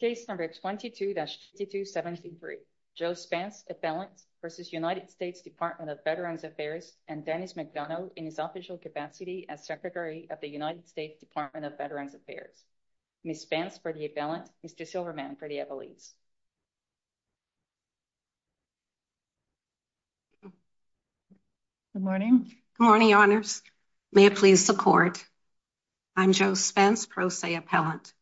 Case number 22-6273, Joe Spence, appellant, v. United States Department of Veterans Affairs and Dennis McDonough in his official capacity as Secretary of the United States Department of Veterans Affairs. Ms. Spence for the appellant, Mr. Silverman for the appellees. Good morning. Good morning, honors. May I please support? I'm Joe Spence, pro se appellant.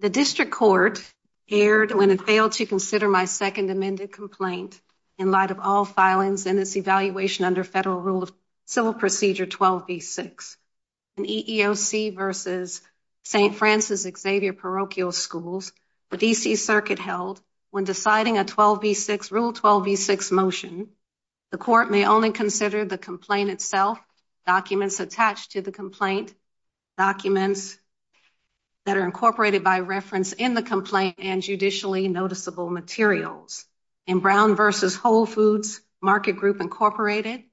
The District Court erred when it failed to consider my second amended complaint in light of all filings in this evaluation under Federal Rule of Civil Procedure 12b-6, an EEOC v. St. Francis Xavier Parochial Schools the D.C. Circuit held when deciding a Rule 12b-6 motion, the Court may only consider the complaint itself, documents attached to the complaint, documents that are incorporated by reference in the complaint, and judicially noticeable materials. In Brown v. Whole Foods Market Group, Inc.,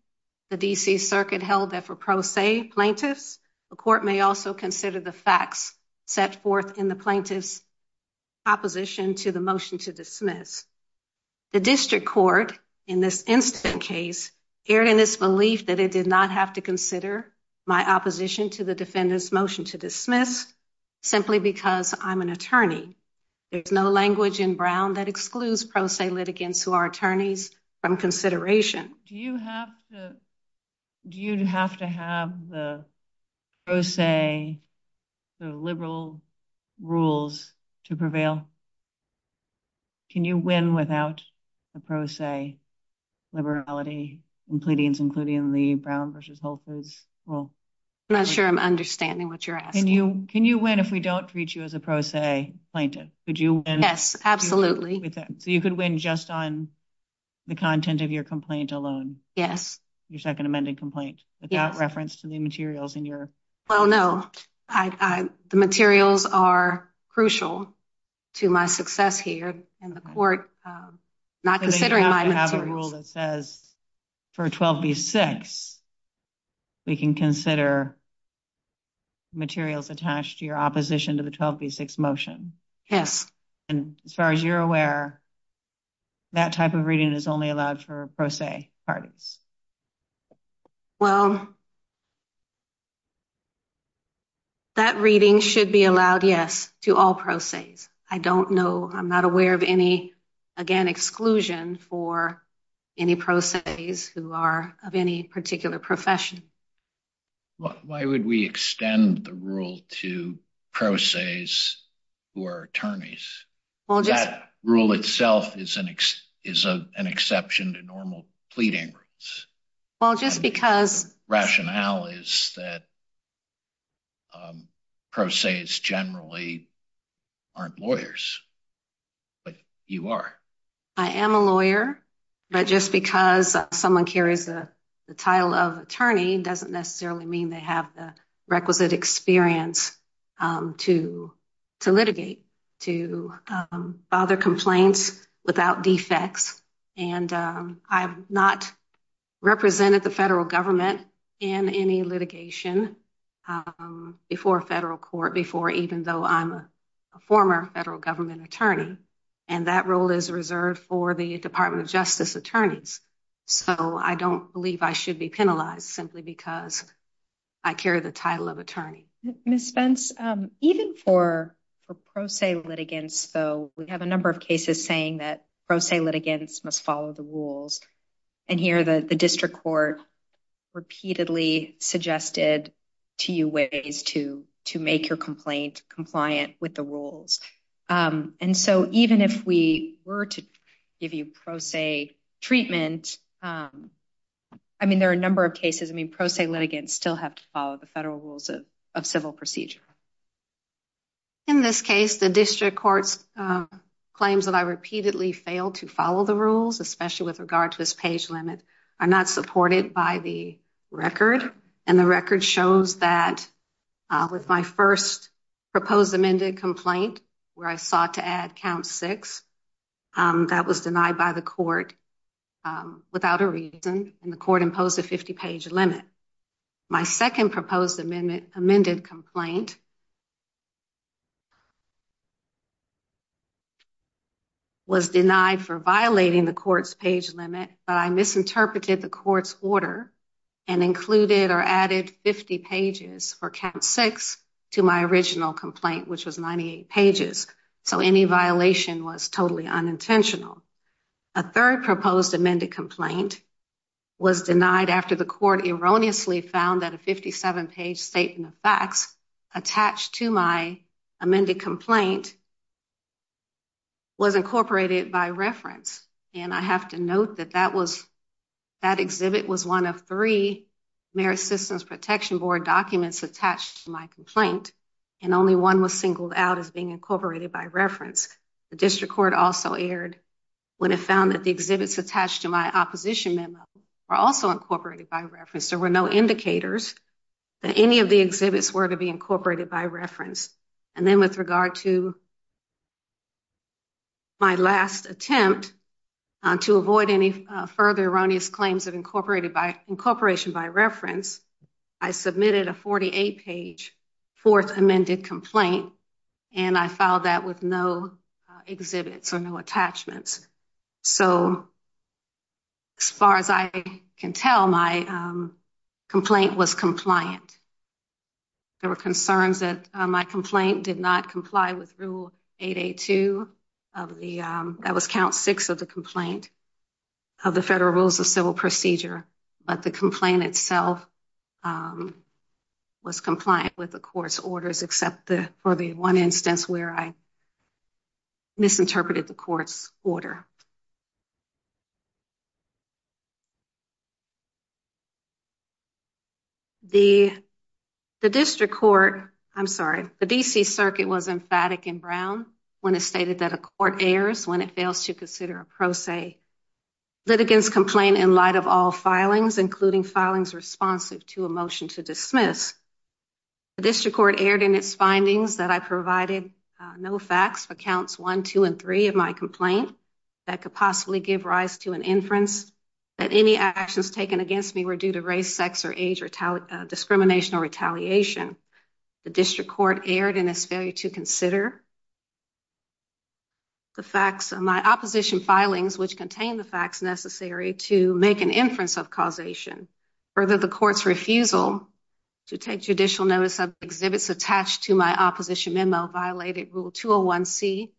the D.C. Circuit held that for pro se plaintiffs, the Court may also consider the facts set forth in the plaintiff's proposition to the motion to dismiss. The District Court, in this incident case, erred in its belief that it did not have to consider my opposition to the defendant's motion to dismiss simply because I'm an attorney. There's no language in Brown that excludes pro se litigants who are attorneys from consideration. Do you have to have the pro se, the liberal rules to prevail? Can you win without the pro se liberality in pleadings, including the Brown v. Whole Foods rule? I'm not sure I'm understanding what you're asking. Can you win if we don't treat you as a pro se plaintiff? Could you win? Yes, absolutely. So you could win just on the content of your complaint alone? Yes. Your second amended complaint, without reference to the materials in your complaint? Well, no. The materials are crucial to my success here in the Court, not considering my materials. So they have to have a rule that says, for 12b-6, we can consider materials attached to your opposition to the 12b-6 motion? Yes. And as far as you're aware, that type of reading is only allowed for pro se parties? Well, that reading should be allowed, yes, to all pro ses. I don't know. I'm not aware of any, again, exclusion for any pro ses who are of any particular profession. Why would we extend the rule to pro ses who are attorneys? That rule itself is an exception to normal pleading rules. Well, just because... Rationale is that pro ses generally aren't lawyers, but you are. I am a lawyer, but just because someone carries the title of attorney doesn't necessarily mean they have the requisite experience to litigate, to bother complaints without defects. And I have not represented the federal government in any litigation before federal court, before even though I'm a former federal government attorney. And that role is reserved for the Department of Justice attorneys. So I don't believe I should be penalized simply because I carry the title of attorney. Ms. Spence, even for pro se litigants, though, we have a number of cases saying that pro se litigants must follow the rules. And here the district court repeatedly suggested to you ways to make your complaint compliant with the rules. And so even if we were to give you pro se treatment, I mean, there are a number of cases, I mean, pro se litigants still have to follow the federal rules of civil procedure. In this case, the district court's claims that I repeatedly failed to follow the rules, especially with regard to this page limit, are not supported by the record. And the record shows that with my first proposed amended complaint, where I sought to add count six, that was denied by the court without a reason. And the court imposed a 50-page limit. My second proposed amended complaint was denied for violating the court's page limit, but I misinterpreted the court's order and included or added 50 pages, or count six, to my original complaint, which was 98 pages. So any violation was totally unintentional. A third proposed amended complaint was denied after the court erroneously found that a 57-page statement of facts attached to my amended complaint was incorporated by reference. And I have to note that that exhibit was one of three Merit Systems Protection Board documents attached to my complaint, and only one was singled out as being incorporated by reference. The district court also erred when it found that the exhibits attached to my opposition memo were also incorporated by reference. There were no indicators that any of the exhibits were to be incorporated by reference. And then with regard to my last attempt to avoid any further erroneous claims of incorporation by reference, I submitted a 48-page fourth amended complaint, and I filed that with no exhibits or no attachments. So as far as I can tell, my complaint was compliant. There were concerns that my complaint did not comply with Rule 882 of the, that was count six of the complaint of the Federal Rules of Civil Procedure, but the complaint itself was compliant with the court's orders, except for the one instance where I misinterpreted the court's order. The, the district court, I'm sorry, the D.C. Circuit was emphatic in Brown when it stated that a court errs when it fails to consider a pro se litigants complain in light of all filings, including filings responsive to a motion to dismiss. The district court erred in its findings that I provided no facts for counts one, two, and three of my complaint that could possibly give rise to an inference that any actions taken against me were due to race, sex, or age discrimination or retaliation. The district court erred in its failure to consider the facts of my opposition filings, which contain the facts necessary to make an inference of causation. Further, the court's refusal to take judicial notice of exhibits attached to my opposition memo violated Rule 201C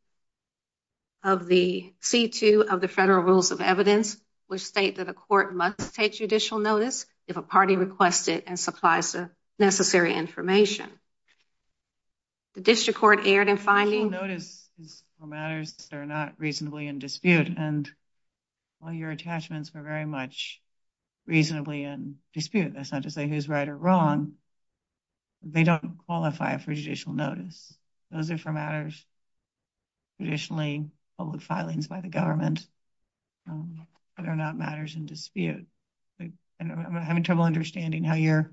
of the C2 of the Federal Rules of Evidence, which state that a court must take judicial notice if a party requested and supplies the necessary information. The district court erred in finding... Judicial notices are matters that are not reasonably in dispute, and all your attachments were very much reasonably in dispute. That's not to say who's right or wrong. They don't qualify for judicial notice. Those are for matters traditionally public filings by the government that are not matters in dispute. I'm having trouble understanding how your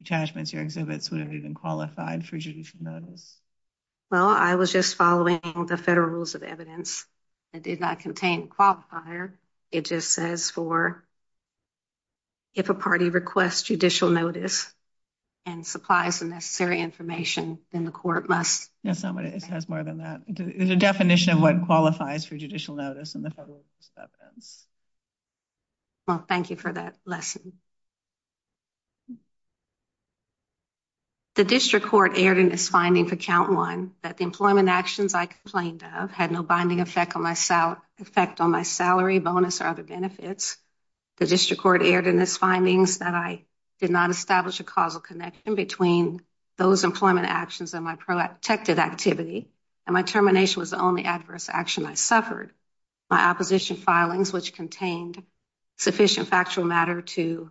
attachments, your exhibits, would have even qualified for judicial notice. Well, I was just following the Federal Rules of Evidence. It did not contain qualifier. It just says for if a party requests judicial notice and supplies the necessary information, then the court must... That's not what it says more than that. The definition of what qualifies for judicial notice in the Federal Rules of Evidence. Well, thank you for that lesson. The district court erred in its finding for count one that the employment actions I complained had no binding effect on my salary, bonus, or other benefits. The district court erred in its findings that I did not establish a causal connection between those employment actions and my protected activity, and my termination was the only adverse action I suffered. My opposition filings, which contained sufficient factual matter to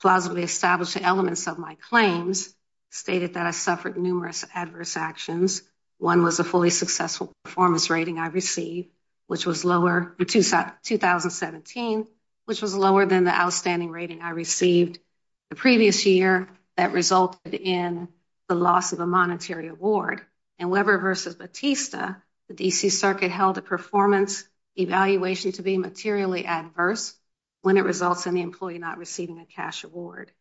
plausibly establish the elements of my claims, stated that I suffered numerous adverse actions. One was a fully successful performance rating I received, which was lower in 2017, which was lower than the outstanding rating I received the previous year that resulted in the loss of a monetary award. In Weber v. Batista, the D.C. Circuit held a performance evaluation to be materially adverse when it results in the employee not receiving a cash award.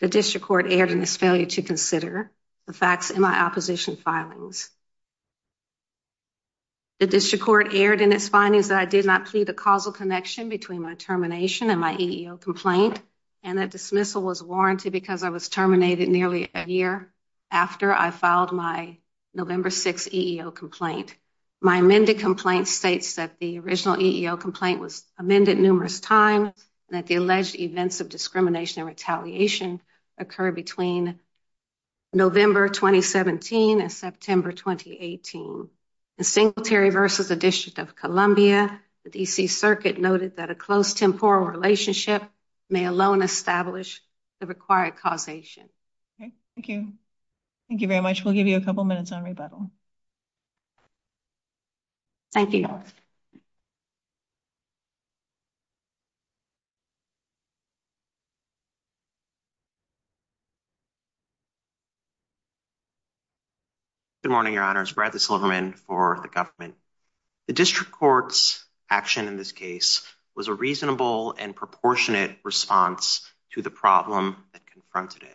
The district court erred in its failure to consider the facts in my opposition filings. The district court erred in its findings that I did not plead a causal connection between my termination and my EEO complaint, and that dismissal was warranted because I was terminated nearly a year after I filed my November 6th EEO complaint. My amended complaint states that the original EEO complaint was amended numerous times, and that the alleged events of discrimination and retaliation occurred between November 2017 and September 2018. In Singletary v. the District of Columbia, the D.C. Circuit noted that a close temporal relationship may alone establish the required causation. Okay. Thank you. Thank you very much. We'll give you a couple minutes on rebuttal. Thank you. Thank you. Good morning, Your Honors. Bradley Silverman for the government. The district court's action in this case was a reasonable and proportionate response to the problem that confronted it.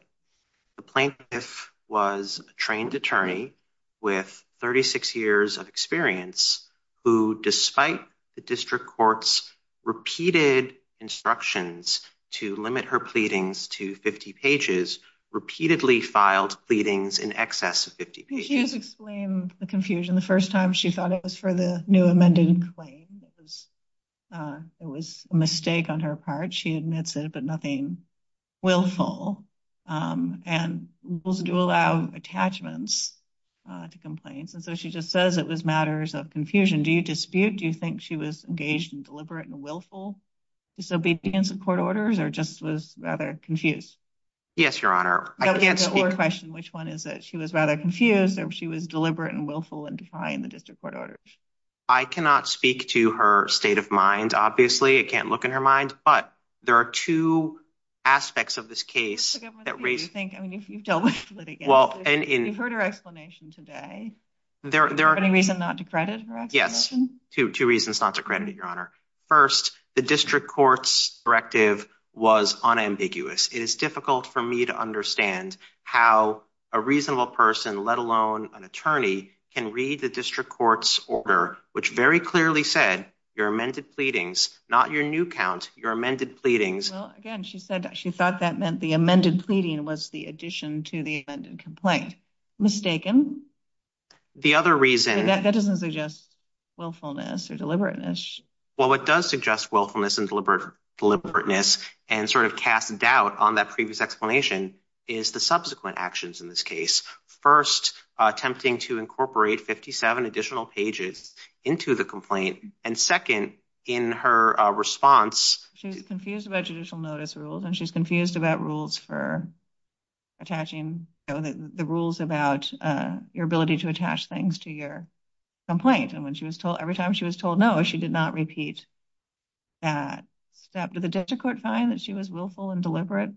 The plaintiff was a trained attorney with 36 years of experience who, despite the district court's repeated instructions to limit her pleadings to 50 pages, repeatedly filed pleadings in excess of 50 pages. She has explained the confusion the first time she thought it was for the new amended claim. It was a mistake on her part. She admits it, but nothing willful. And rules do allow attachments to complaints. And so she just says it was matters of confusion. Do you dispute? Do you think she was engaged in deliberate and willful disobedience of court orders or just was rather confused? Yes, Your Honor. I can't speak. The only question, which one is it? She was rather confused or she was deliberate and willful in defying the district court orders. I cannot speak to her state of mind. Obviously, I can't look in her mind. But there are two aspects of this case that raise. I mean, if you've dealt with it. Well, and you've heard her explanation today, there are many reasons not to credit her. Yes, two reasons not to credit, Your Honor. First, the district court's directive was unambiguous. It is difficult for me to understand how a reasonable person, let alone an attorney, can read the district court's order, which very clearly said your amended pleadings, not your new count your amended pleadings. Well, again, she said she thought that meant the amended pleading was the addition to the amended complaint mistaken. The other reason that doesn't suggest willfulness or deliberateness. Well, what does suggest willfulness and deliberate deliberateness and sort of cast doubt on that previous explanation is the subsequent actions in this case. First, attempting to incorporate 57 additional pages into the complaint. And second, in her response, she was confused about judicial notice rules and she's confused about rules for attaching the rules about your ability to attach things to your complaint. And when she was told every time she was told no, she did not repeat that step. Did the district court find that she was willful and deliberate?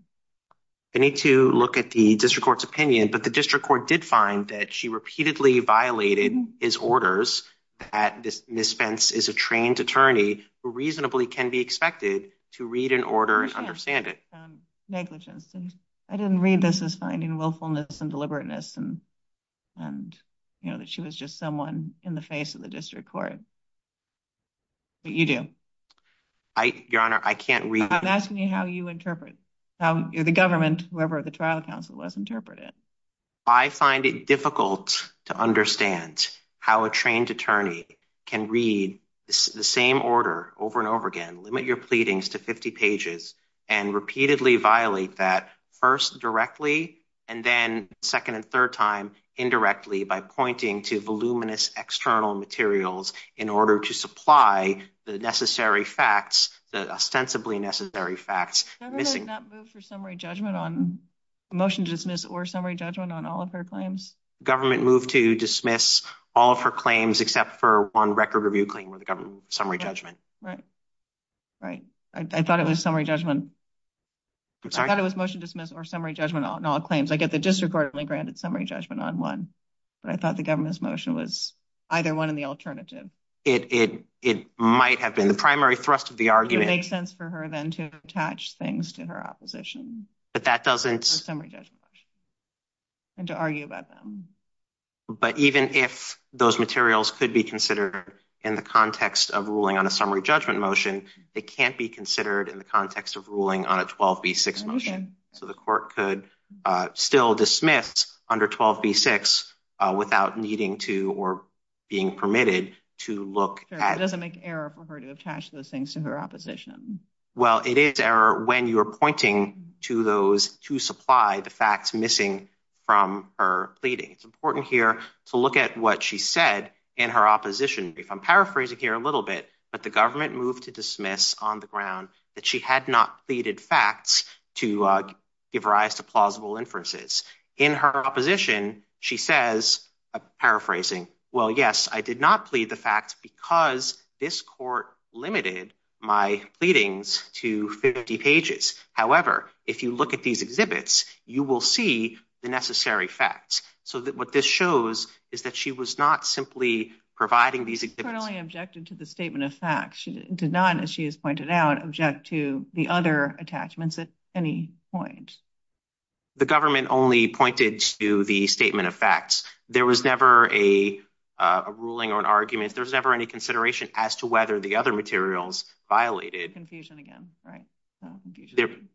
I need to look at the district court's opinion, but the district court did find that she repeatedly violated his orders, that this misspence is a trained attorney who reasonably can be expected to read an order and understand it. Negligence. I didn't read this as finding willfulness and deliberateness and, you know, that she was just someone in the face of the district court. But you do. I, Your Honor, I can't read. I'm asking you how you interpret how the government, whoever the trial counsel was interpreted. I find it difficult to understand how a trained attorney can read the same order over and over again, limit your pleadings to 50 pages and repeatedly violate that first directly and then second and third time indirectly by pointing to voluminous external materials in order to supply the necessary facts, the ostensibly necessary facts. The government did not move for summary judgment on motion to dismiss or summary judgment on all of her claims. Government moved to dismiss all of her claims except for one record review claim with the government summary judgment. Right, right. I thought it was summary judgment. I thought it was motion dismiss or summary judgment on all claims. I get the district court only granted summary judgment on one, but I thought the government's motion was either one in the alternative. It might have been the primary thrust of the argument. It makes sense for her then to attach things to her opposition. But that doesn't. And to argue about them. But even if those materials could be considered in the context of ruling on a summary judgment motion, it can't be considered in the context of ruling on a 12B6 motion. So the court could still dismiss under 12B6 without needing to or being permitted to look at. It doesn't make error for her to attach those things to her opposition. Well, it is error when you are pointing to those to supply the facts missing from her It's important here to look at what she said in her opposition. If I'm paraphrasing here a little bit, but the government moved to dismiss on the ground that she had not pleaded facts to give rise to plausible inferences. In her opposition, she says, paraphrasing, well, yes, I did not plead the facts because this court limited my pleadings to 50 pages. However, if you look at these exhibits, you will see the necessary facts. What this shows is that she was not simply providing these exhibits. The court only objected to the statement of facts. She did not, as she has pointed out, object to the other attachments at any point. The government only pointed to the statement of facts. There was never a ruling or an argument. There's never any consideration as to whether the other materials violated. Confusion again, right?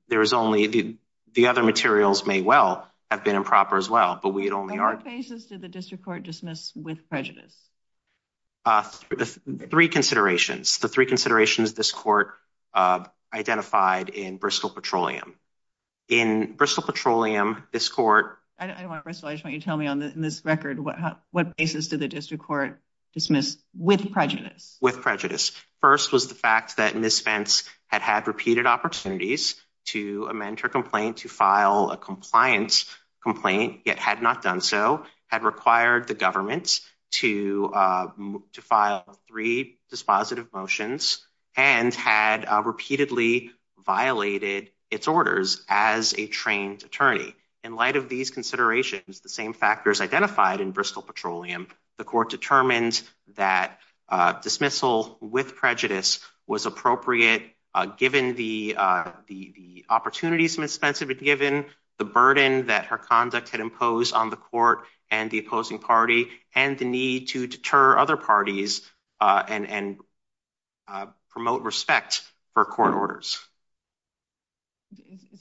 There is only the other materials may well have been improper as well. But we had only our basis to the district court dismiss with prejudice. Three considerations. The three considerations this court identified in Bristol Petroleum. In Bristol Petroleum, this court. I don't want to tell me on this record. What basis to the district court dismiss with prejudice with prejudice? First was the fact that Miss Spence had had repeated opportunities to amend her complaint to file a compliance complaint yet had not done so had required the government to file three dispositive motions and had repeatedly violated its orders as a trained attorney. In light of these considerations, the same factors identified in Bristol Petroleum, the court determined that dismissal with prejudice was appropriate given the opportunities Miss Spence had been given, the burden that her conduct had imposed on the court and the opposing party and the need to deter other parties and promote respect for court orders.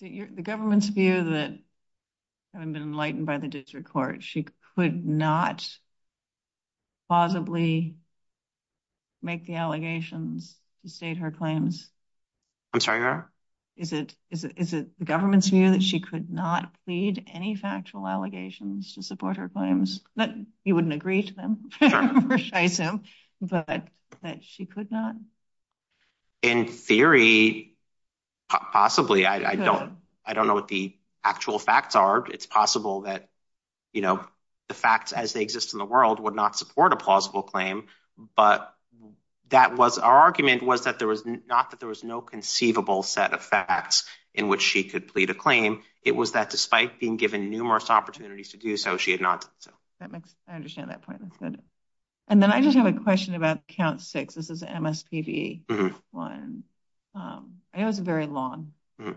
The government's view that hadn't been enlightened by the district court. She could not possibly make the allegations to state her claims. I'm sorry. Is it is it is it the government's view that she could not plead any factual allegations to support her claims that you wouldn't agree to them? But that she could not. In theory, possibly, I don't I don't know what the actual facts are. It's possible that, you know, the facts as they exist in the world would not support a plausible claim, but that was our argument was that there was not that there was no conceivable set of facts in which she could plead a claim. It was that despite being given numerous opportunities to do so, she had not. I understand that point. And then I just have a question about count six. This is MSPB one. I know it's very long. But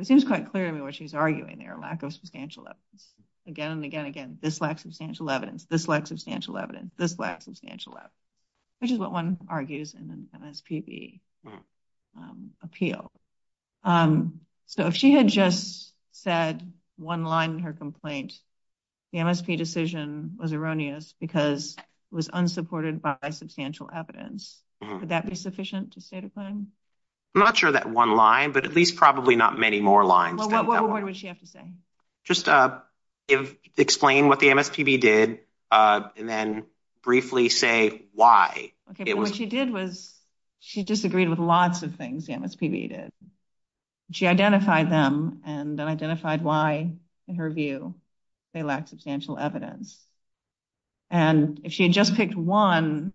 it seems quite clear to me what she's arguing there, a lack of substantial evidence again and again. Again, this lack substantial evidence, this lack substantial evidence, this lack substantial evidence, which is what one argues in the MSPB appeal. So if she had just said one line in her complaint, the MSP decision was erroneous because it was unsupported by substantial evidence. Would that be sufficient to state a claim? I'm not sure that one line, but at least probably not many more lines. Well, what would she have to say? Just explain what the MSPB did and then briefly say why it was. What she did was she disagreed with lots of things the MSPB did. She identified them and identified why, in her view, they lack substantial evidence. And if she had just picked one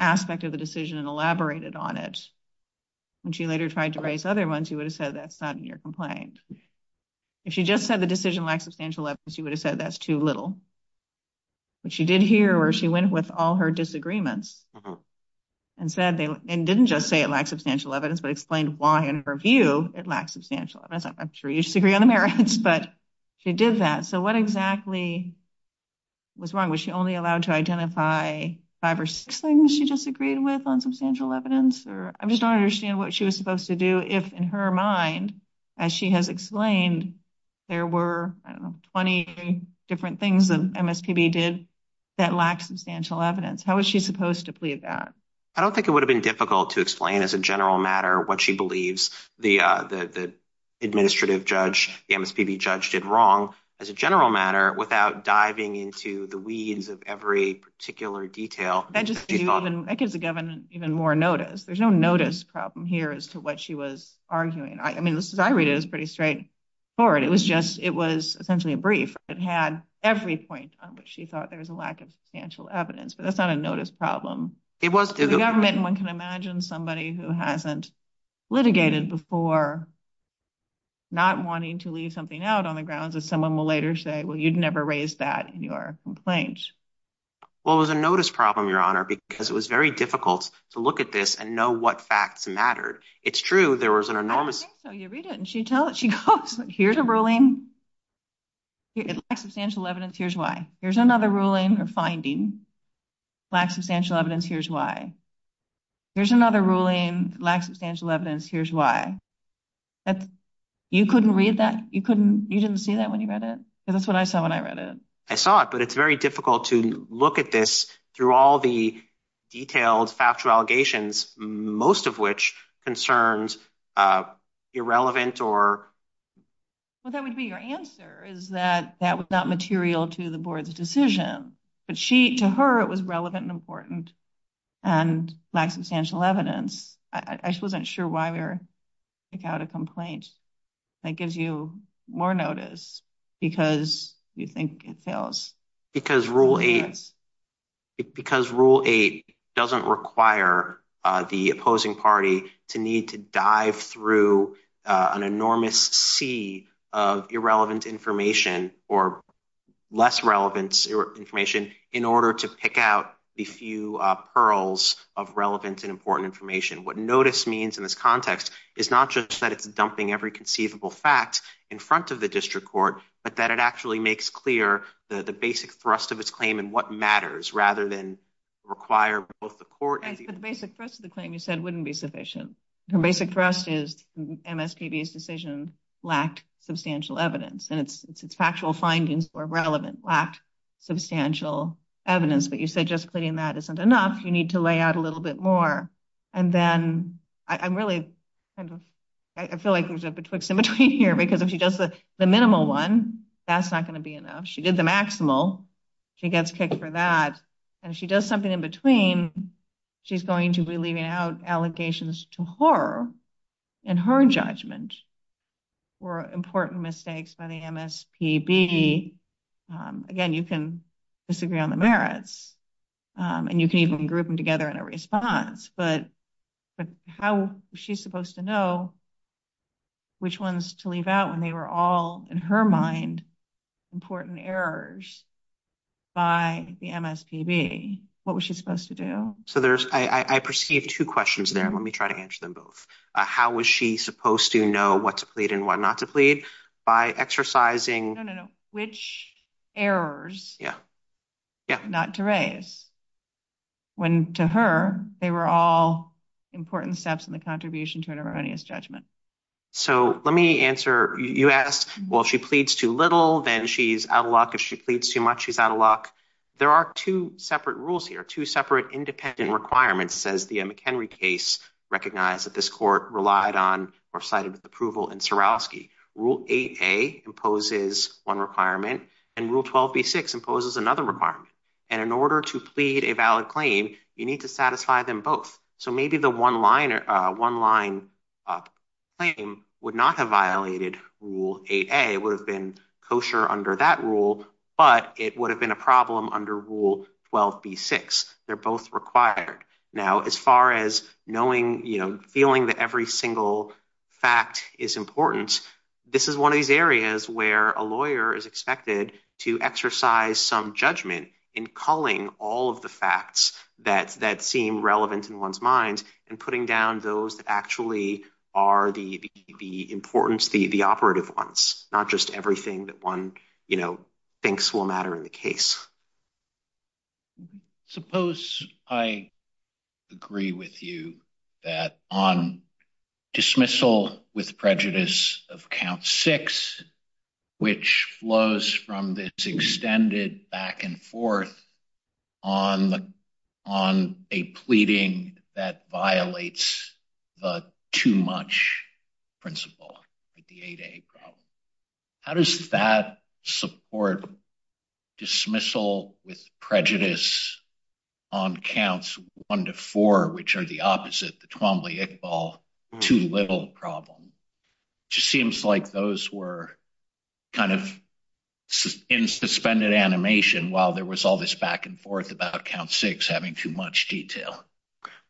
aspect of the decision and elaborated on it, when she later tried to raise other ones, you would have said that's not in your complaint. If she just said the decision lacks substantial evidence, you would have said that's too little. But she did here where she went with all her disagreements and said they didn't just say it lacks substantial evidence, but explained why, in her view, it lacks substantial evidence. I'm sure you disagree on the merits, but she did that. What exactly was wrong? Was she only allowed to identify five or six things she disagreed with on substantial evidence? I just don't understand what she was supposed to do if, in her mind, as she has explained, there were 20 different things the MSPB did that lacked substantial evidence. How was she supposed to plead that? I don't think it would have been difficult to explain as a general matter what she believes the administrative judge, the MSPB judge, did wrong as a general matter without diving into the weeds of every particular detail. That gives the government even more notice. There's no notice problem here as to what she was arguing. I mean, as I read it, it's pretty straightforward. It was essentially a brief. It had every point on which she thought there was a lack of substantial evidence, but that's not a notice problem. The government, one can imagine somebody who hasn't litigated before not wanting to leave something out on the grounds that someone will later say, well, you'd never raise that in your complaint. Well, it was a notice problem, Your Honor, because it was very difficult to look at this and know what facts mattered. It's true. There was an enormous. So you read it, and she goes, here's a ruling. It lacks substantial evidence. Here's why. Here's another ruling or finding. Lacks substantial evidence. Here's why. There's another ruling lacks substantial evidence. Here's why. You couldn't read that. You couldn't. You didn't see that when you read it. That's what I saw when I read it. I saw it, but it's very difficult to look at this through all the detailed factual allegations, most of which concerns irrelevant or. Well, that would be your answer is that that was not material to the board's decision, but she to her, it was relevant and important and lack substantial evidence. I just wasn't sure why we were. Pick out a complaint that gives you more notice because you think it fails because rule eight. Because rule eight doesn't require the opposing party to need to dive through an enormous sea of irrelevant information or less relevant information in order to pick out the few pearls of relevant and important information. What notice means in this context is not just that it's dumping every conceivable fact in front of the district court, but that it actually makes clear the basic thrust of its claim and what matters rather than. Require both the court and the basic thrust of the claim you said wouldn't be sufficient. Her basic thrust is MSPB's decision lacked substantial evidence and its factual findings were relevant, lacked substantial evidence. But you said just putting that isn't enough. You need to lay out a little bit more. And then I'm really kind of, I feel like there's a betwixt in between here because if she does the minimal one, that's not going to be enough. She did the maximal. She gets kicked for that. And she does something in between. She's going to be leaving out allegations to her and her judgment or important mistakes by the MSPB. Again, you can disagree on the merits and you can even group them together in a response. But how she's supposed to know which ones to leave out when they were all in her mind important errors by the MSPB. What was she supposed to do? So there's, I perceive two questions there. Let me try to answer them both. How was she supposed to know what to plead and what not to plead by exercising? Which errors not to raise when to her they were all important steps in the contribution to an erroneous judgment. So let me answer. You asked, well, she pleads too little. Then she's out of luck. If she pleads too much, she's out of luck. There are two separate rules here. Two separate independent requirements says the McHenry case recognized that this court relied on or cited with approval and Swarovski rule 8a imposes one requirement and rule 12b6 imposes another requirement. And in order to plead a valid claim, you need to satisfy them both. So maybe the one line or one line up claim would not have violated rule 8a would have been kosher under that rule, but it would have been a problem under rule 12b6. They're both required. Now, as far as knowing, you know, feeling that every single fact is important, this is one of these areas where a lawyer is expected to exercise some judgment in calling all of the facts that seem relevant in one's mind and putting down those that actually are the importance, the operative ones, not just everything that one, you know, thinks will matter in the case. Suppose I agree with you that on dismissal with prejudice of count six, which flows from extended back and forth on a pleading that violates the too much principle, the 8a problem. How does that support dismissal with prejudice on counts one to four, which are the opposite, the Twombly-Iqbal, too little problem? It just seems like those were kind of in suspended animation while there was all this back and forth about count six having too much detail.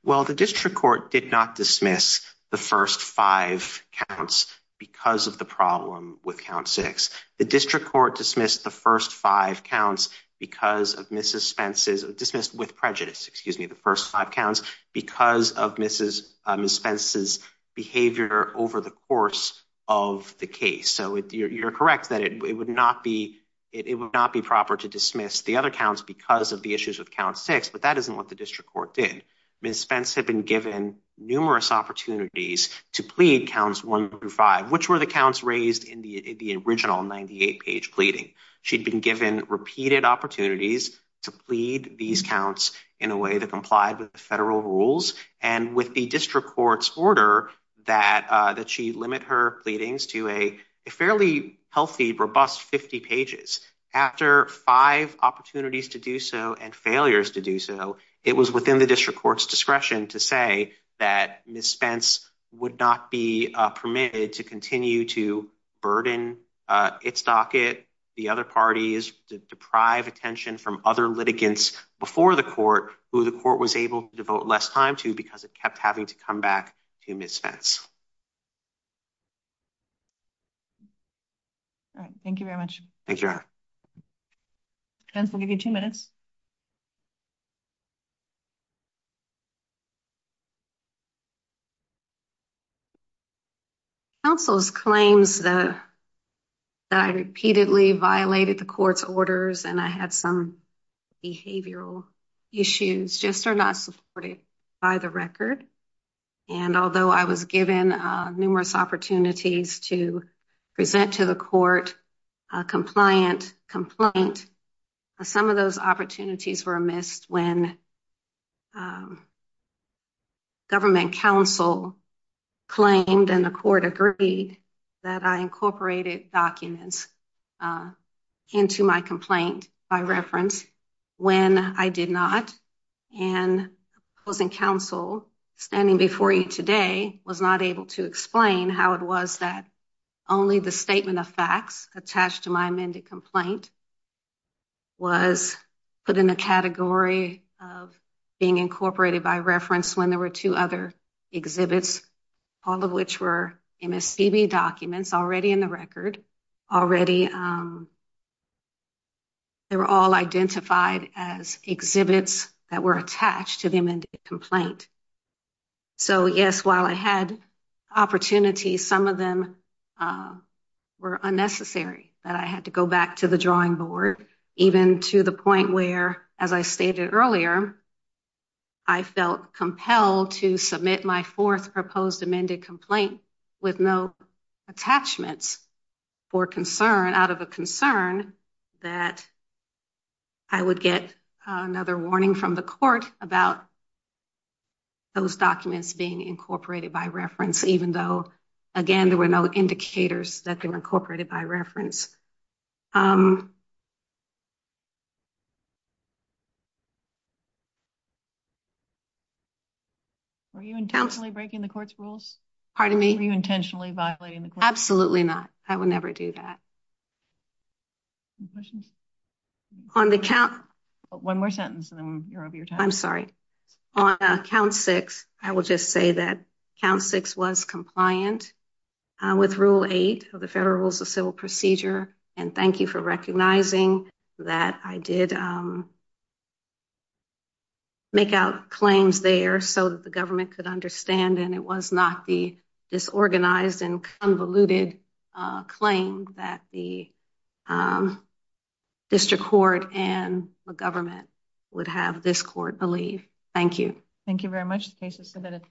Well, the district court did not dismiss the first five counts because of the problem with count six. The district court dismissed the first five counts because of misdispenses, dismissed with prejudice, excuse me, the first five counts because of Ms. Spence's behavior over the course of the case. So you're correct that it would not be proper to dismiss the other counts because of the issues with count six, but that isn't what the district court did. Ms. Spence had been given numerous opportunities to plead counts one through five, which were the counts raised in the original 98-page pleading. She'd been given repeated opportunities to plead these counts in a way that complied with the federal rules, and with the district court's order that she limit her pleadings to a fairly healthy, robust 50 pages. After five opportunities to do so and failures to do so, it was within the district court's discretion to say that Ms. Spence would not be permitted to continue to burden its docket, the other parties to deprive attention from other litigants before the court, who the court was able to devote less time to because it kept having to come back to Ms. Spence. All right. Thank you very much. Thank you. Spence, we'll give you two minutes. Counsel's claims that I repeatedly violated the court's orders and I had some behavioral issues just are not supported by the record, and although I was given numerous opportunities to present to the court a compliant complaint, some of those opportunities were not supported were missed when government counsel claimed and the court agreed that I incorporated documents into my complaint by reference when I did not, and opposing counsel standing before you today was not able to explain how it was that only the statement of facts attached to my amended complaint was put in a category of being incorporated by reference when there were two other exhibits, all of which were MSPB documents already in the record, already they were all identified as exhibits that were attached to the amended complaint. So, yes, while I had opportunities, some of them were unnecessary that I had to go back to the drawing board, even to the point where, as I stated earlier, I felt compelled to submit my fourth proposed amended complaint with no attachments for concern out of a concern that I would get another warning from the court about those documents being incorporated by reference, even though, again, there were no indicators that can incorporate it by reference. Were you intentionally breaking the court's rules? Pardon me? Were you intentionally violating the court's rules? Absolutely not. I would never do that. Any questions? On the count— One more sentence, and then you're over your time. I'm sorry. On count six, I will just say that count six was compliant with Rule 8 of the Federal Rules of Civil Procedure, and thank you for recognizing that I did make out claims there so that the government could understand, and it was not the disorganized and the district court and the government would have this court believe. Thank you. Thank you very much. The case is submitted.